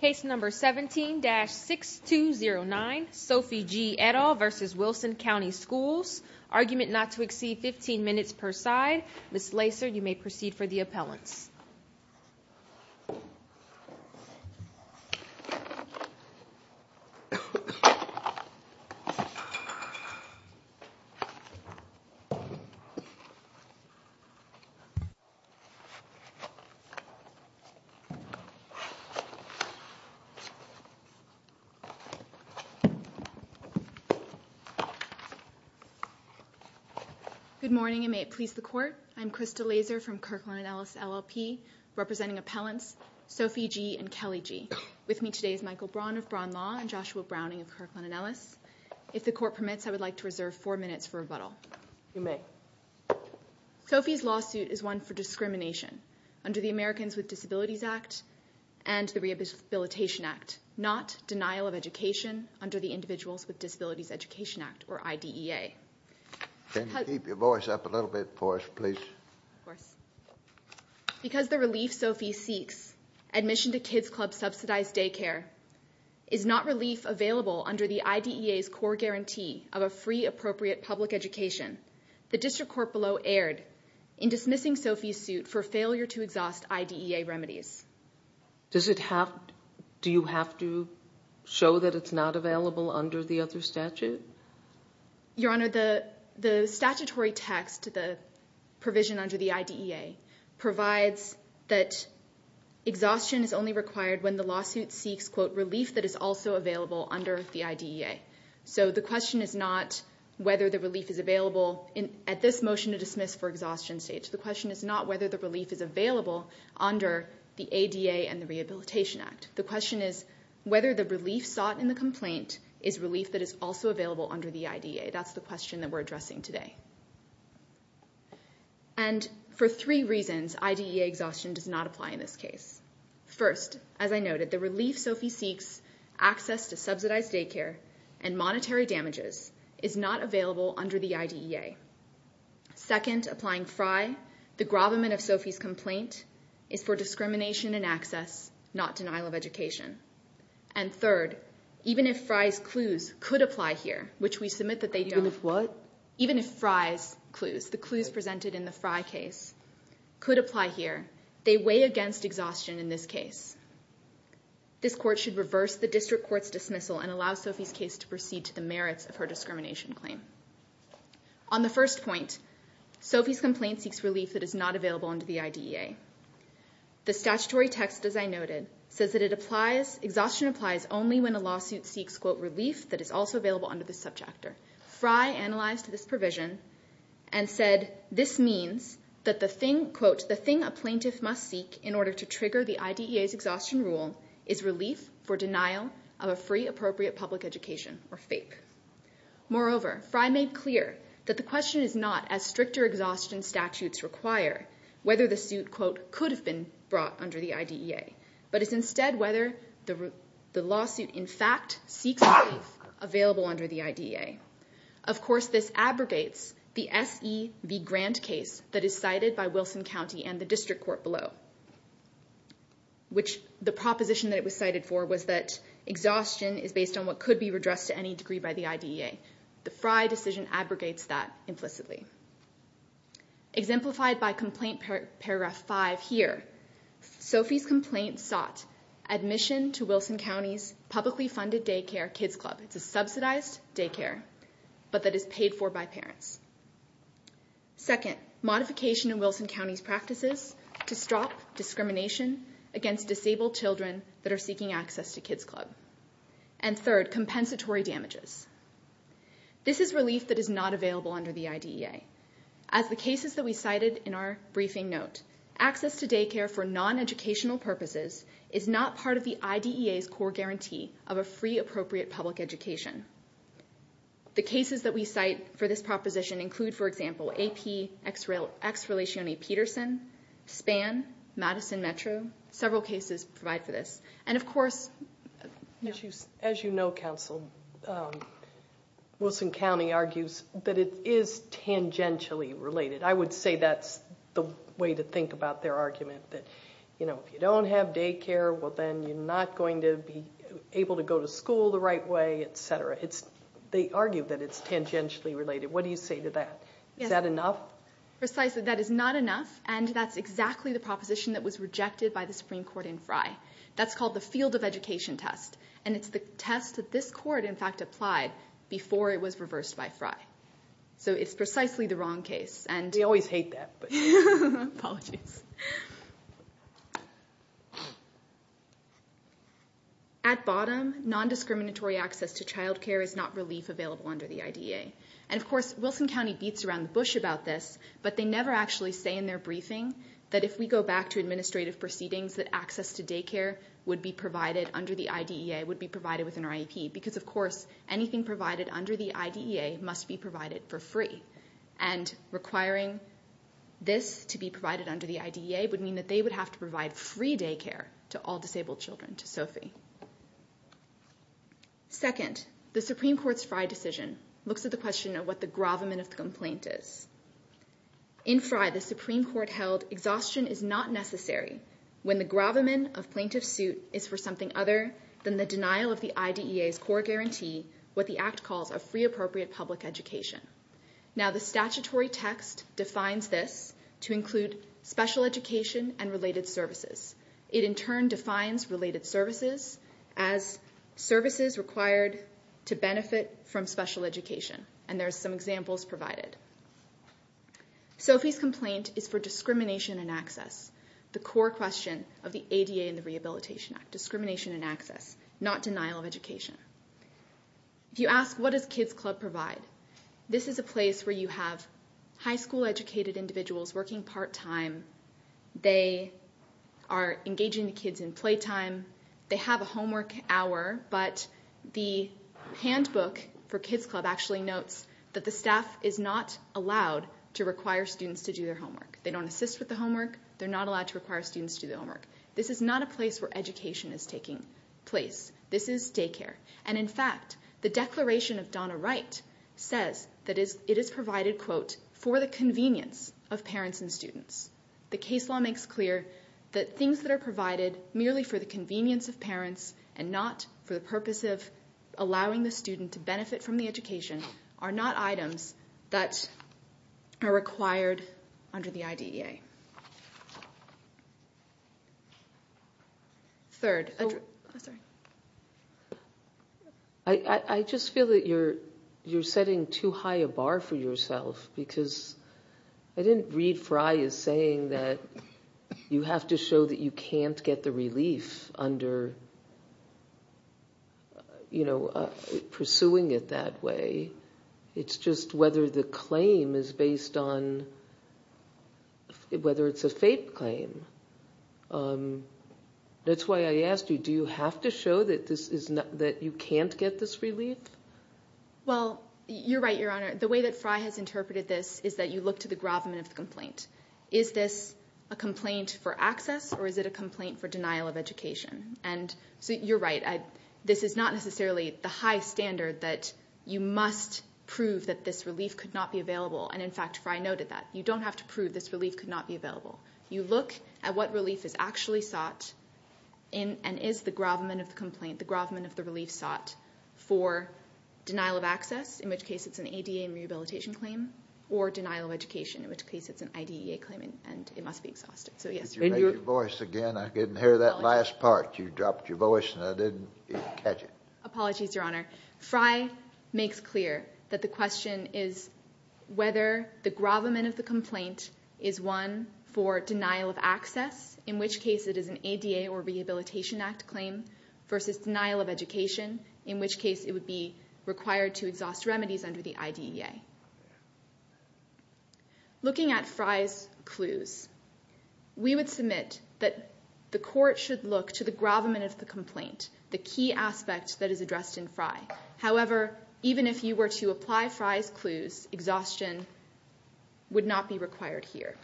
Case number 17-6209, Sophie G. et al. v. Wilson County Schools Argument not to exceed 15 minutes per side. Ms. Lacer, you may proceed for the appellants. Good morning, and may it please the Court. I'm Krista Lacer from Kirkland & Ellis LLP, representing appellants Sophie G. and Kelly G. With me today is Michael Braun of Braun Law and Joshua Browning of Kirkland & Ellis. If the Court permits, I would like to reserve four minutes for rebuttal. You may. Sophie's lawsuit is one for discrimination under the Americans with Disabilities Act and the Rehabilitation Act, not denial of education under the Individuals with Disabilities Education Act, or IDEA. Can you keep your voice up a little bit for us, please? Of course. Because the relief Sophie seeks, admission to Kids Club subsidized daycare, is not relief available under the IDEA's core guarantee of a free, appropriate public education. The District Court below erred in dismissing Sophie's suit for failure to exhaust IDEA remedies. Do you have to show that it's not available under the other statute? Your Honor, the statutory text, the provision under the IDEA, provides that exhaustion is only required when the lawsuit seeks, quote, relief that is also available under the IDEA. So the question is not whether the relief is available at this motion to dismiss for exhaustion stage. The question is not whether the relief is available under the ADA and the Rehabilitation Act. The question is whether the relief sought in the complaint is relief that is also available under the IDEA. That's the question that we're addressing today. And for three reasons, IDEA exhaustion does not apply in this case. First, as I noted, the relief Sophie seeks, access to subsidized daycare, and monetary damages, is not available under the IDEA. Second, applying FRI, the gravamen of Sophie's complaint, is for discrimination in access, not denial of education. And third, even if FRI's clues could apply here, which we submit that they don't. Even if what? Even if FRI's clues, the clues presented in the FRI case, could apply here, they weigh against exhaustion in this case. This court should reverse the district court's dismissal and allow Sophie's case to proceed to the merits of her discrimination claim. On the first point, Sophie's complaint seeks relief that is not available under the IDEA. The statutory text, as I noted, says that it applies, exhaustion applies only when a provision and said, this means that the thing, quote, the thing a plaintiff must seek in order to trigger the IDEA's exhaustion rule is relief for denial of a free, appropriate public education, or FAPE. Moreover, FRI made clear that the question is not as stricter exhaustion statutes require whether the suit, quote, could have been brought under the IDEA, but is instead whether the lawsuit, in fact, seeks relief available under the IDEA. Of course, this abrogates the S.E.V. Grant case that is cited by Wilson County and the district court below, which the proposition that it was cited for was that exhaustion is based on what could be redressed to any degree by the IDEA. The FRI decision abrogates that implicitly. Exemplified by complaint paragraph five here, Sophie's complaint sought admission to Wilson County's publicly funded daycare kids club. It's a subsidized daycare, but that is paid for by parents. Second, modification in Wilson County's practices to stop discrimination against disabled children that are seeking access to kids club. And third, compensatory damages. This is relief that is not available under the IDEA. As the cases that we cited in our briefing note, access to daycare for non-educational purposes is not part of the IDEA's core guarantee of a free, appropriate public education. The cases that we cite for this proposition include, for example, AP, Ex Relatione Peterson, SPAN, Madison Metro. Several cases provide for this. And of course... As you know, counsel, Wilson County argues that it is tangentially related. I would say that's the way to think about their argument. That, you know, if you don't have daycare, well, then you're not going to be able to go to school the right way, et cetera. It's... They argue that it's tangentially related. What do you say to that? Is that enough? Precisely. That is not enough. And that's exactly the proposition that was rejected by the Supreme Court in FRI. That's called the field of education test. And it's the test that this court, in fact, applied before it was reversed by FRI. So it's precisely the wrong case. And... They always hate that. Apologies. At bottom, non-discriminatory access to childcare is not relief available under the IDEA. And of course, Wilson County beats around the bush about this, but they never actually say in their briefing that if we go back to administrative proceedings, that access to daycare would be provided under the IDEA, would be provided within our IEP. Because, of course, anything provided under the IDEA must be provided for free. And requiring this to be provided under the IDEA would mean that they would have to provide free daycare to all disabled children, to SOFI. Second, the Supreme Court's FRI decision looks at the question of what the gravamen of the complaint is. In FRI, the Supreme Court held exhaustion is not necessary when the gravamen of plaintiff's core guarantee what the act calls a free appropriate public education. Now, the statutory text defines this to include special education and related services. It, in turn, defines related services as services required to benefit from special education. And there's some examples provided. SOFI's complaint is for discrimination and access. The core question of the ADA and the Rehabilitation Act. Discrimination and access. Not denial of education. If you ask, what does Kids Club provide? This is a place where you have high school educated individuals working part time. They are engaging the kids in playtime. They have a homework hour. But the handbook for Kids Club actually notes that the staff is not allowed to require students to do their homework. They don't assist with the homework. They're not allowed to require students to do their homework. This is not a place where education is taking place. This is daycare. And, in fact, the declaration of Donna Wright says that it is provided, quote, for the convenience of parents and students. The case law makes clear that things that are provided merely for the convenience of parents and not for the purpose of allowing the student to benefit from the education are not items that are required under the IDEA. Third. I just feel that you're setting too high a bar for yourself. Because I didn't read Frye as saying that you have to show that you can't get the relief under pursuing it that way. It's just whether the claim is based on whether it's a fake claim. That's why I asked you, do you have to show that you can't get this relief? Well, you're right, Your Honor. The way that Frye has interpreted this is that you look to the gravamen of the complaint. Is this a complaint for access or is it a complaint for denial of education? And you're right. This is not necessarily the high standard that you must prove that this relief could not be available. And, in fact, Frye noted that. You don't have to prove this relief could not be available. You look at what relief is actually sought and is the gravamen of the complaint, the gravamen of the relief sought for denial of access, in which case it's an ADA rehabilitation claim, or denial of education, in which case it's an IDEA claim and it must be exhausted. Could you make your voice again? I didn't hear that last part. You dropped your voice and I didn't catch it. Apologies, Your Honor. for denial of access, in which case it is an ADA or rehabilitation act claim, versus denial of education, in which case it would be required to exhaust remedies under the IDEA. Looking at Frye's clues, we would submit that the court should look to the gravamen of the complaint, the key aspect that is addressed in Frye. However, even if you were to apply Frye's clues, exhaustion would not be required here.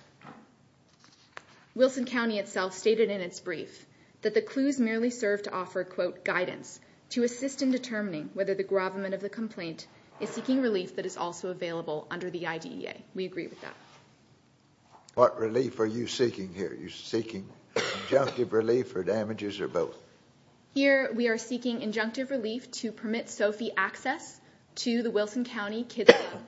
Wilson County itself stated in its brief that the clues merely serve to offer, quote, guidance to assist in determining whether the gravamen of the complaint is seeking relief that is also available under the IDEA. We agree with that. What relief are you seeking here? Are you seeking injunctive relief or damages or both? Here we are seeking injunctive relief to permit SOFI access to the Wilson County Kids Club.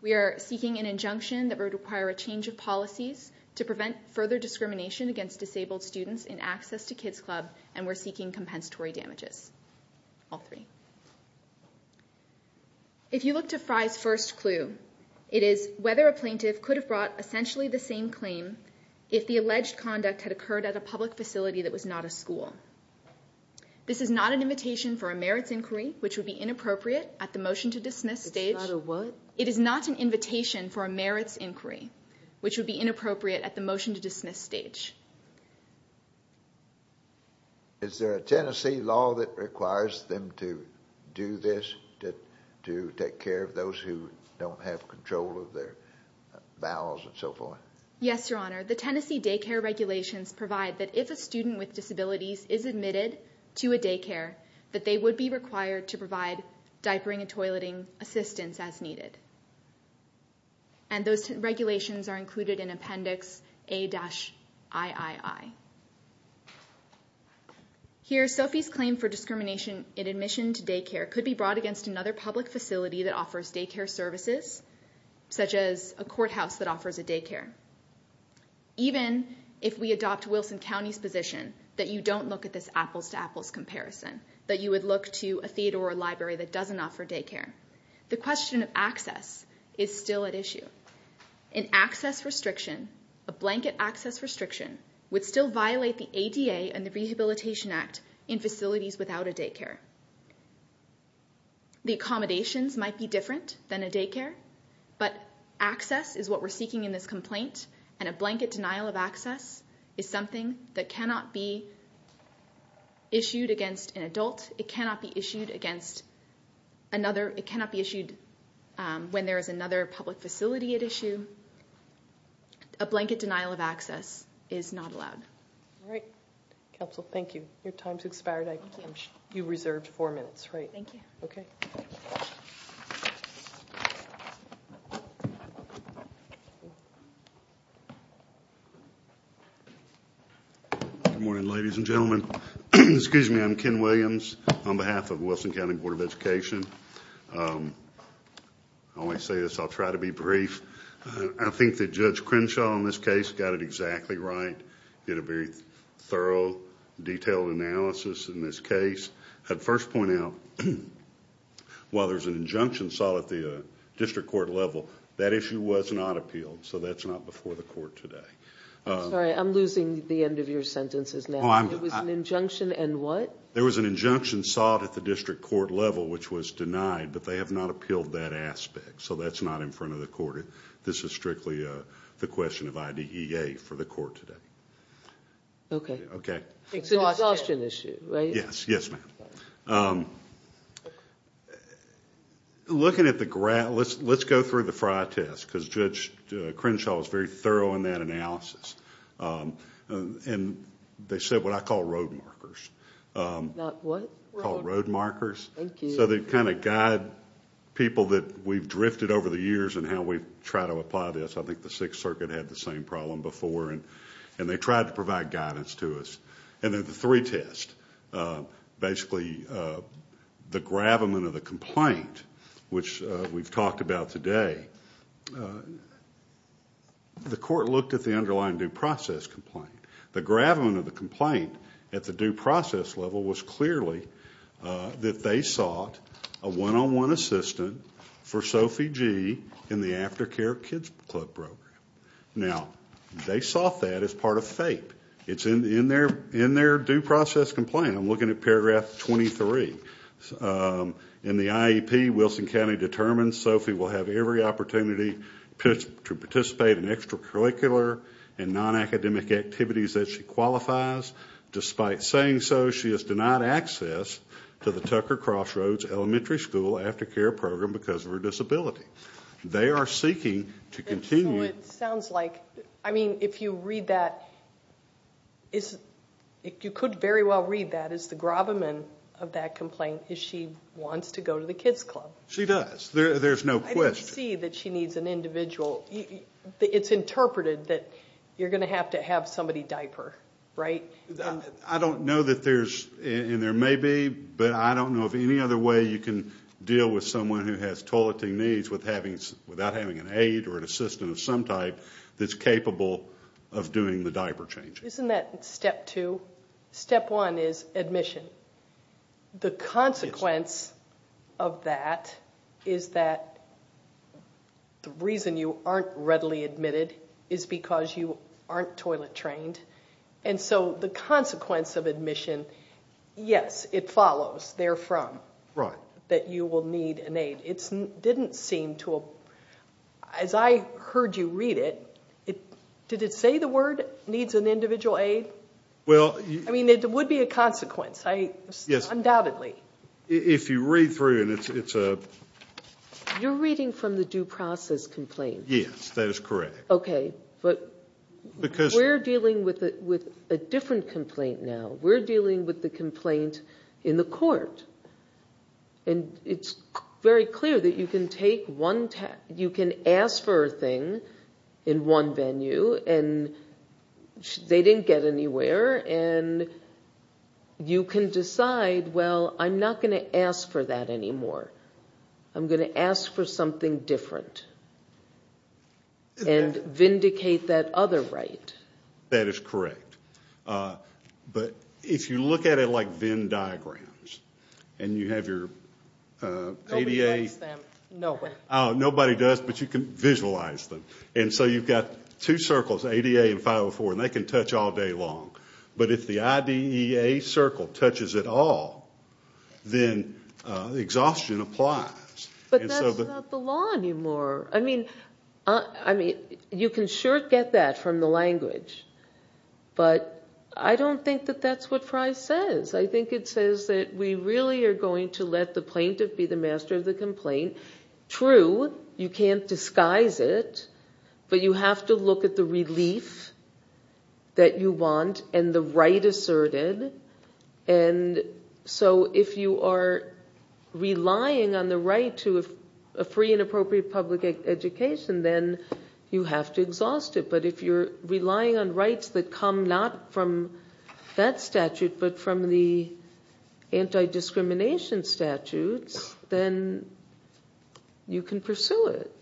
We are seeking an injunction that would require a change of policies to prevent further discrimination against disabled students in access to Kids Club, and we're seeking compensatory damages. All three. If you look to Frye's first clue, it is whether a plaintiff could have brought essentially the same claim if the alleged conduct had occurred at a public facility that was not a school. This is not an invitation for a merits inquiry, which would be inappropriate at the motion-to-dismiss stage. It's not a what? It is not an invitation for a merits inquiry, which would be inappropriate at the motion-to-dismiss stage. Is there a Tennessee law that requires them to do this, to take care of those who don't have control of their bowels and so forth? Yes, Your Honor. The Tennessee daycare regulations provide that if a student with disabilities is admitted to a daycare, that they would be required to provide diapering and toileting assistance as needed. And those regulations are included in Appendix A-III. Here, SOFI's claim for discrimination in admission to daycare could be brought against another public facility that offers daycare services, such as a courthouse that offers a daycare. Even if we adopt Wilson County's position that you don't look at this apples-to-apples comparison, that you would look to a theater or a library that doesn't offer daycare, the question of access is still at issue. An access restriction, a blanket access restriction, would still violate the ADA and the Rehabilitation Act in facilities without a daycare. The accommodations might be different than a daycare, but access is what we're seeking in this complaint, and a blanket denial of access is something that cannot be issued against an adult. It cannot be issued when there is another public facility at issue. A blanket denial of access is not allowed. All right. Counsel, thank you. Your time's expired. You reserved four minutes, right? Thank you. Okay. Good morning, ladies and gentlemen. Excuse me, I'm Ken Williams on behalf of Wilson County Board of Education. I always say this, I'll try to be brief. I think that Judge Crenshaw in this case got it exactly right. He did a very thorough, detailed analysis in this case. I'd first point out, while there's an injunction sought at the district court level, that issue was not appealed, so that's not before the court today. Sorry, I'm losing the end of your sentences now. It was an injunction and what? There was an injunction sought at the district court level which was denied, but they have not appealed that aspect, so that's not in front of the court. This is strictly the question of IDEA for the court today. Okay. It's a discussion issue, right? Yes, ma'am. Looking at the ground, let's go through the fry test, because Judge Crenshaw was very thorough in that analysis. They said what I call road markers. Not what? Called road markers. Thank you. So they kind of guide people that we've drifted over the years in how we try to apply this. I think the Sixth Circuit had the same problem before, and they tried to provide guidance to us. And then the three tests, basically the gravamen of the complaint, which we've talked about today, the court looked at the underlying due process complaint. The gravamen of the complaint at the due process level was clearly that they sought a one-on-one assistant for Sophie G. in the aftercare kids club program. Now, they sought that as part of FAPE. It's in their due process complaint. I'm looking at paragraph 23. In the IEP, Wilson County determines Sophie will have every opportunity to participate in extracurricular and non-academic activities that she qualifies. Despite saying so, she is denied access to the Tucker Crossroads Elementary School aftercare program because of her disability. They are seeking to continue. So it sounds like, I mean, if you read that, you could very well read that as the gravamen of that complaint is she wants to go to the kids club. She does. There's no question. You can see that she needs an individual. It's interpreted that you're going to have to have somebody diaper, right? I don't know that there's, and there may be, but I don't know of any other way you can deal with someone who has toileting needs without having an aide or an assistant of some type that's capable of doing the diaper changing. Isn't that step two? Step one is admission. The consequence of that is that the reason you aren't readily admitted is because you aren't toilet trained. And so the consequence of admission, yes, it follows therefrom that you will need an aide. It didn't seem to, as I heard you read it, did it say the word needs an individual aide? I mean, it would be a consequence, undoubtedly. If you read through it, it's a... You're reading from the due process complaint. Yes, that is correct. Okay, but we're dealing with a different complaint now. We're dealing with the complaint in the court, and it's very clear that you can ask for a thing in one venue, and they didn't get anywhere, and you can decide, well, I'm not going to ask for that anymore. I'm going to ask for something different and vindicate that other right. That is correct. But if you look at it like Venn diagrams, and you have your ADA... Nobody likes them. Nobody does, but you can visualize them. And so you've got two circles, ADA and 504, and they can touch all day long. But if the IDEA circle touches it all, then exhaustion applies. But that's not the law anymore. I mean, you can sure get that from the language, but I don't think that that's what Frye says. I think it says that we really are going to let the plaintiff be the master of the complaint. True, you can't disguise it, but you have to look at the relief that you want and the right asserted. And so if you are relying on the right to a free and appropriate public education, then you have to exhaust it. But if you're relying on rights that come not from that statute but from the anti-discrimination statutes, then you can pursue it.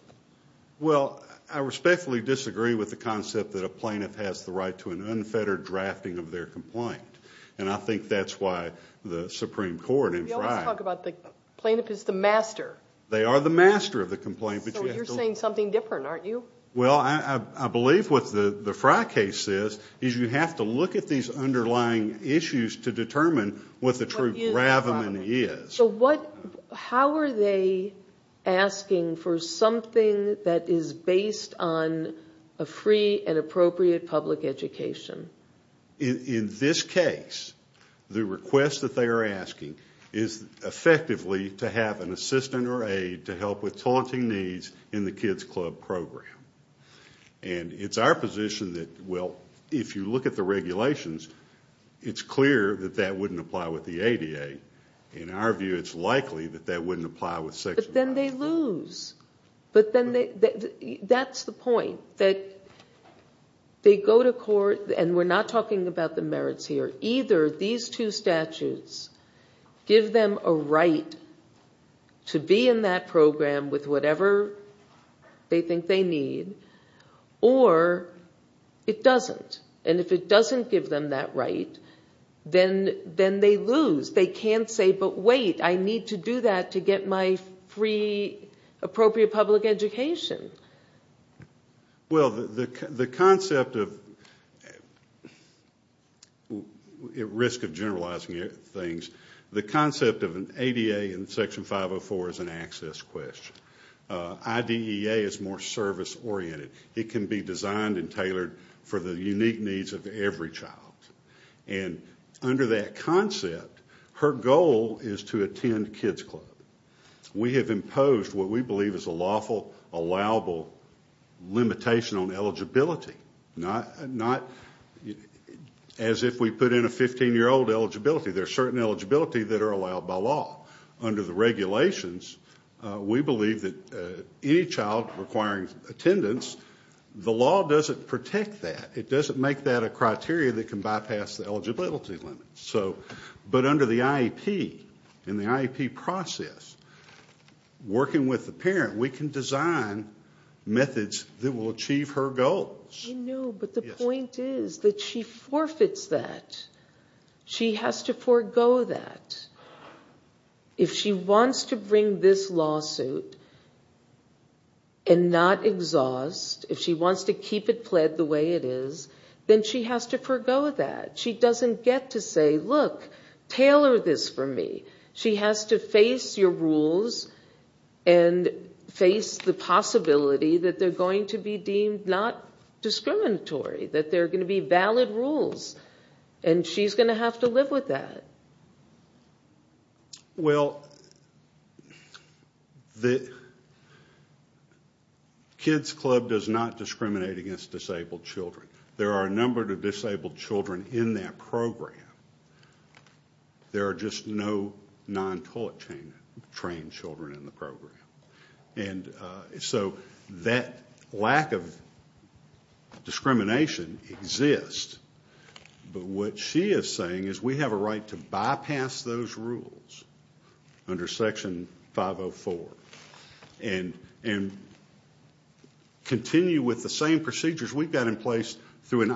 Well, I respectfully disagree with the concept that a plaintiff has the right to an unfettered drafting of their complaint. And I think that's why the Supreme Court in Frye... We always talk about the plaintiff is the master. They are the master of the complaint. So you're saying something different, aren't you? Well, I believe what the Frye case says is you have to look at these underlying issues to determine what the true gravamen is. So how are they asking for something that is based on a free and appropriate public education? In this case, the request that they are asking is effectively to have an assistant or aid to help with taunting needs in the kids' club program. And it's our position that, well, if you look at the regulations, it's clear that that wouldn't apply with the ADA. In our view, it's likely that that wouldn't apply with Section 95. But then they lose. That's the point, that they go to court. And we're not talking about the merits here. So either these two statutes give them a right to be in that program with whatever they think they need, or it doesn't. And if it doesn't give them that right, then they lose. They can't say, but wait, I need to do that to get my free, appropriate public education. Well, the concept of, at risk of generalizing things, the concept of an ADA in Section 504 is an access question. IDEA is more service-oriented. It can be designed and tailored for the unique needs of every child. And under that concept, her goal is to attend kids' club. We have imposed what we believe is a lawful, allowable limitation on eligibility. Not as if we put in a 15-year-old eligibility. There are certain eligibility that are allowed by law. Under the regulations, we believe that any child requiring attendance, the law doesn't protect that. It doesn't make that a criteria that can bypass the eligibility limit. But under the IEP, in the IEP process, working with the parent, we can design methods that will achieve her goals. I know, but the point is that she forfeits that. She has to forego that. If she wants to bring this lawsuit and not exhaust, if she wants to keep it pled the way it is, then she has to forego that. She doesn't get to say, look, tailor this for me. She has to face your rules and face the possibility that they're going to be deemed not discriminatory, that they're going to be valid rules. And she's going to have to live with that. Well, the kids' club does not discriminate against disabled children. There are a number of disabled children in that program. There are just no non-culture trained children in the program. And so that lack of discrimination exists. But what she is saying is we have a right to bypass those rules under Section 504 and continue with the same procedures we've got in place through the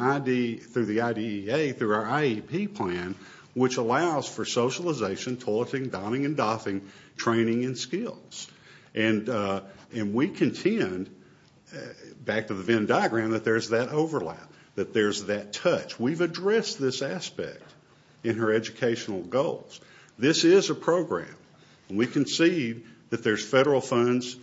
IDEA, through our IEP plan, which allows for socialization, toileting, donning and doffing, training and skills. And we contend, back to the Venn diagram, that there's that overlap, that there's that touch. We've addressed this aspect in her educational goals. This is a program. And we concede that there's federal funds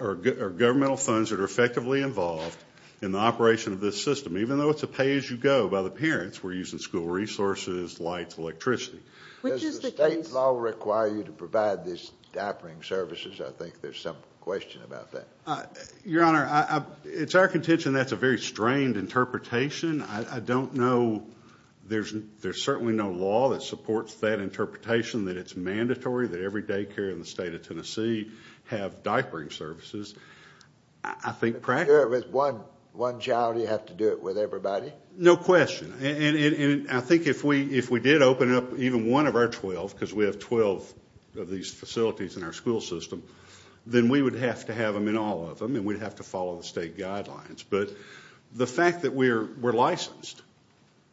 or governmental funds that are effectively involved in the operation of this system, even though it's a pay-as-you-go by the parents. We're using school resources, lights, electricity. Does the state law require you to provide these doffing services? I think there's some question about that. Your Honor, it's our contention that's a very strained interpretation. I don't know. There's certainly no law that supports that interpretation, that it's mandatory that every daycare in the state of Tennessee have diapering services. I think practically... Do it with one child or do you have to do it with everybody? No question. And I think if we did open up even one of our 12, because we have 12 of these facilities in our school system, then we would have to have them in all of them and we'd have to follow the state guidelines. But the fact that we're licensed,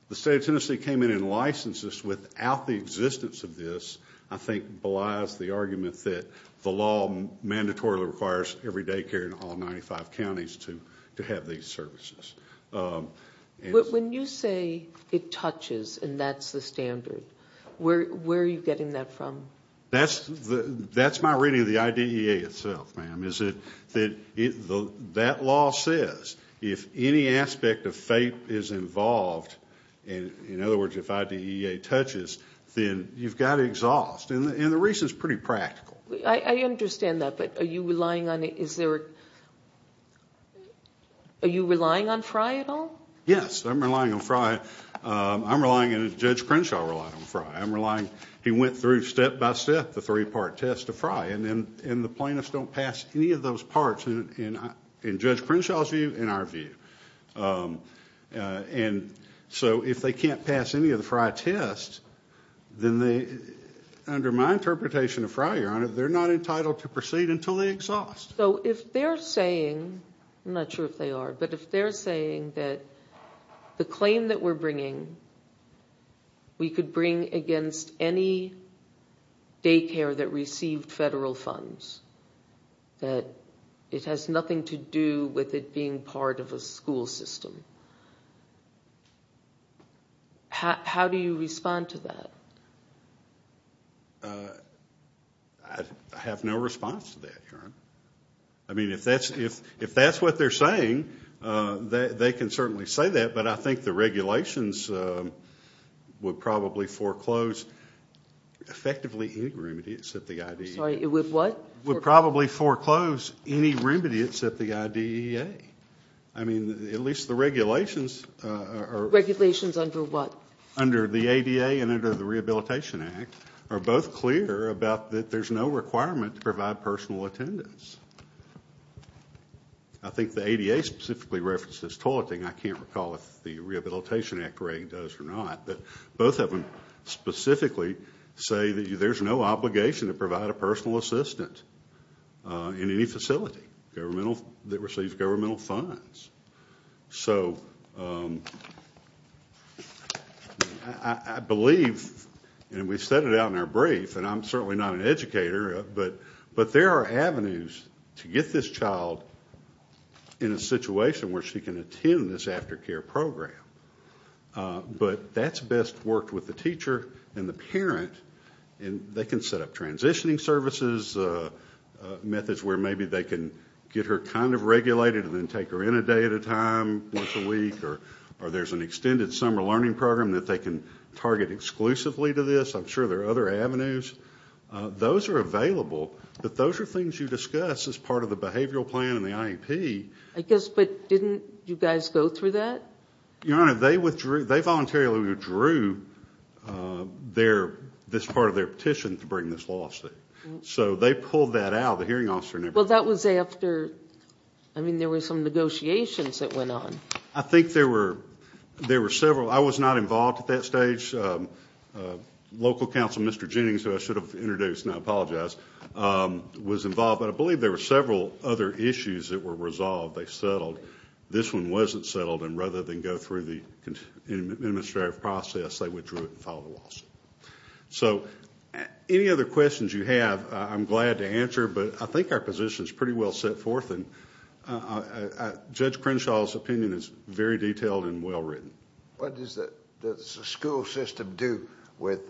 the state of Tennessee came in and licensed us without the existence of this, I think belies the argument that the law mandatorily requires every daycare in all 95 counties to have these services. When you say it touches and that's the standard, where are you getting that from? That's my reading of the IDEA itself, ma'am. That law says if any aspect of FAPE is involved, in other words, if IDEA touches, then you've got to exhaust. And the reason is pretty practical. I understand that, but are you relying on FRI at all? Yes, I'm relying on FRI. I'm relying, and Judge Crenshaw relied on FRI. He went through step-by-step the three-part test of FRI, and the plaintiffs don't pass any of those parts in Judge Crenshaw's view and our view. And so if they can't pass any of the FRI tests, then under my interpretation of FRI, Your Honor, they're not entitled to proceed until they exhaust. So if they're saying, I'm not sure if they are, we could bring against any daycare that received federal funds, that it has nothing to do with it being part of a school system, how do you respond to that? I have no response to that, Your Honor. I mean, if that's what they're saying, they can certainly say that, but I think the regulations would probably foreclose effectively any remedies that the IDEA. Sorry, it would what? Would probably foreclose any remedies that the IDEA. I mean, at least the regulations are. Regulations under what? Under the ADA and under the Rehabilitation Act are both clear about that there's no requirement to provide personal attendance. I think the ADA specifically references toileting. I can't recall if the Rehabilitation Act rating does or not, but both of them specifically say that there's no obligation to provide a personal assistant in any facility that receives governmental funds. So I believe, and we've said it out in our brief, and I'm certainly not an educator, but there are avenues to get this child in a situation where she can attend this aftercare program. But that's best worked with the teacher and the parent, and they can set up transitioning services, methods where maybe they can get her kind of regulated and then take her in a day at a time, once a week, or there's an extended summer learning program that they can target exclusively to this. I'm sure there are other avenues. Those are available, but those are things you discuss as part of the behavioral plan and the IEP. I guess, but didn't you guys go through that? Your Honor, they voluntarily withdrew this part of their petition to bring this lawsuit. So they pulled that out. The hearing officer never did. Well, that was after, I mean, there were some negotiations that went on. I think there were several. I was not involved at that stage. Local counsel, Mr. Jennings, who I should have introduced, and I apologize, was involved, but I believe there were several other issues that were resolved. They settled. This one wasn't settled, and rather than go through the administrative process, they withdrew it and filed a lawsuit. So any other questions you have, I'm glad to answer, but I think our position is pretty well set forth, and Judge Crenshaw's opinion is very detailed and well written. What does the school system do with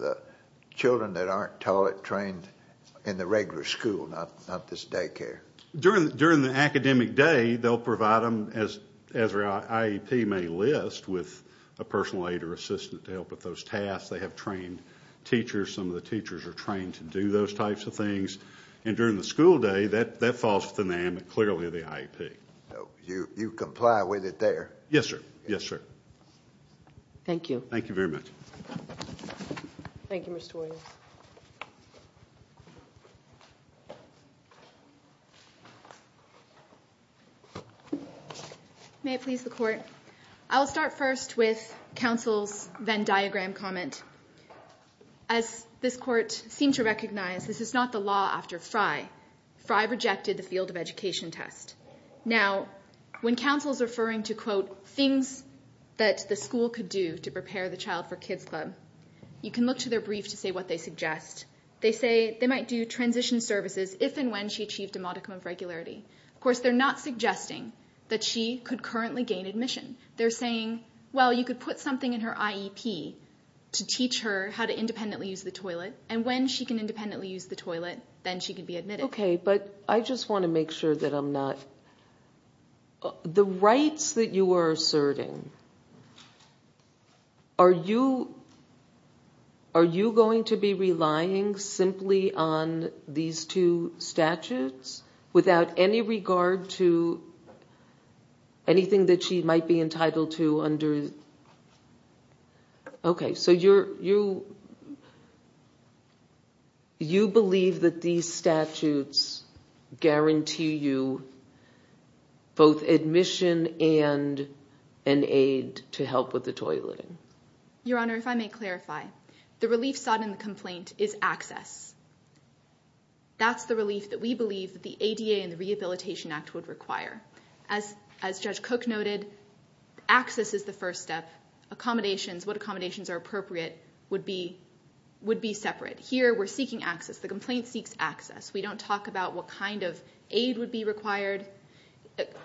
children that aren't taught, trained in the regular school, not this daycare? During the academic day, they'll provide them, as our IEP may list, with a personal aid or assistant to help with those tasks. They have trained teachers. Some of the teachers are trained to do those types of things. And during the school day, that falls to them, clearly the IEP. So you comply with it there? Yes, sir. Yes, sir. Thank you. Thank you very much. Thank you, Mr. Williams. May it please the Court. I'll start first with counsel's Venn diagram comment. As this Court seemed to recognize, this is not the law after Frye. Frye rejected the field of education test. Now, when counsel's referring to, quote, things that the school could do to prepare the child for Kids Club, you can look to their brief to see what they suggest. They say they might do transition services if and when she achieved a modicum of regularity. Of course, they're not suggesting that she could currently gain admission. They're saying, well, you could put something in her IEP to teach her how to independently use the toilet, and when she can independently use the toilet, then she can be admitted. Okay, but I just want to make sure that I'm not. The rights that you are asserting, are you going to be relying simply on these two statutes without any regard to anything that she might be entitled to under? Okay, so you believe that these statutes guarantee you both admission and an aid to help with the toileting. Your Honor, if I may clarify, the relief sought in the complaint is access. That's the relief that we believe the ADA and the Rehabilitation Act would require. As Judge Cook noted, access is the first step. What accommodations are appropriate would be separate. Here, we're seeking access. The complaint seeks access. We don't talk about what kind of aid would be required.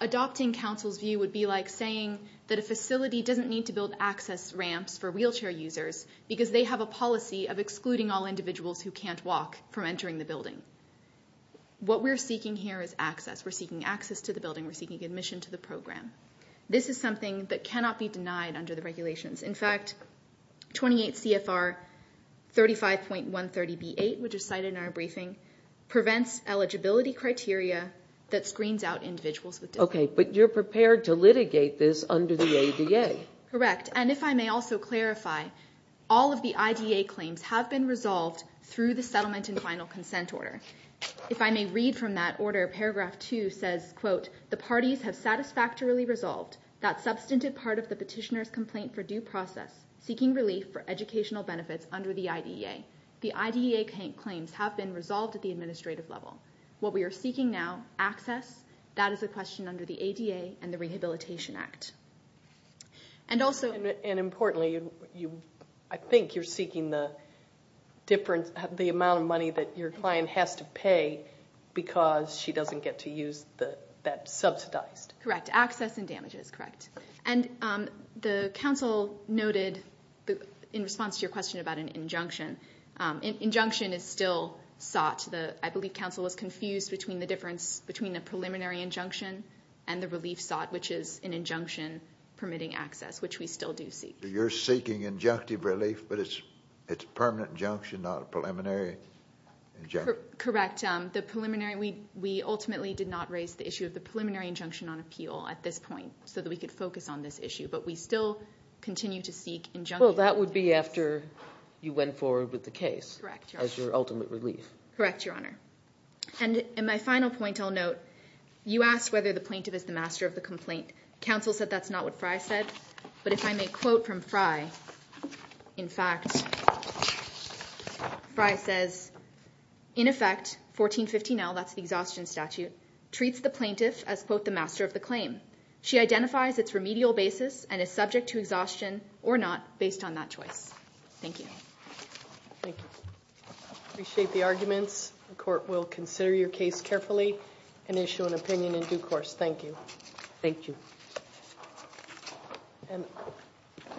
Adopting counsel's view would be like saying that a facility doesn't need to build access ramps for wheelchair users because they have a policy of excluding all individuals who can't walk from entering the building. What we're seeking here is access. We're seeking access to the building. We're seeking admission to the program. This is something that cannot be denied under the regulations. In fact, 28 CFR 35.130B8, which is cited in our briefing, prevents eligibility criteria that screens out individuals with disabilities. Okay, but you're prepared to litigate this under the ADA. Correct, and if I may also clarify, all of the IDA claims have been resolved through the settlement and final consent order. If I may read from that order, paragraph two says, quote, the parties have satisfactorily resolved that substantive part of the petitioner's complaint for due process, seeking relief for educational benefits under the IDEA. The IDEA claims have been resolved at the administrative level. What we are seeking now, access, that is a question under the ADA and the Rehabilitation Act. And also- And importantly, I think you're seeking the amount of money that your client has to pay because she doesn't get to use that subsidized- Correct, access and damages, correct. And the council noted, in response to your question about an injunction, injunction is still sought. I believe council was confused between the difference between a preliminary injunction and the relief sought, which is an injunction permitting access, which we still do seek. You're seeking injunctive relief, but it's a permanent injunction, not a preliminary injunction. Correct. The preliminary, we ultimately did not raise the issue of the preliminary injunction on appeal at this point so that we could focus on this issue, but we still continue to seek injunctive relief. Well, that would be after you went forward with the case. Correct, Your Honor. As your ultimate relief. Correct, Your Honor. And my final point I'll note, you asked whether the plaintiff is the master of the complaint. Council said that's not what Frey said, but if I may quote from Frey. In fact, Frey says, In effect, 1415L, that's the exhaustion statute, treats the plaintiff as, quote, the master of the claim. She identifies its remedial basis and is subject to exhaustion or not based on that choice. Thank you. Thank you. Appreciate the arguments. The court will consider your case carefully and issue an opinion in due course. Thank you. Thank you.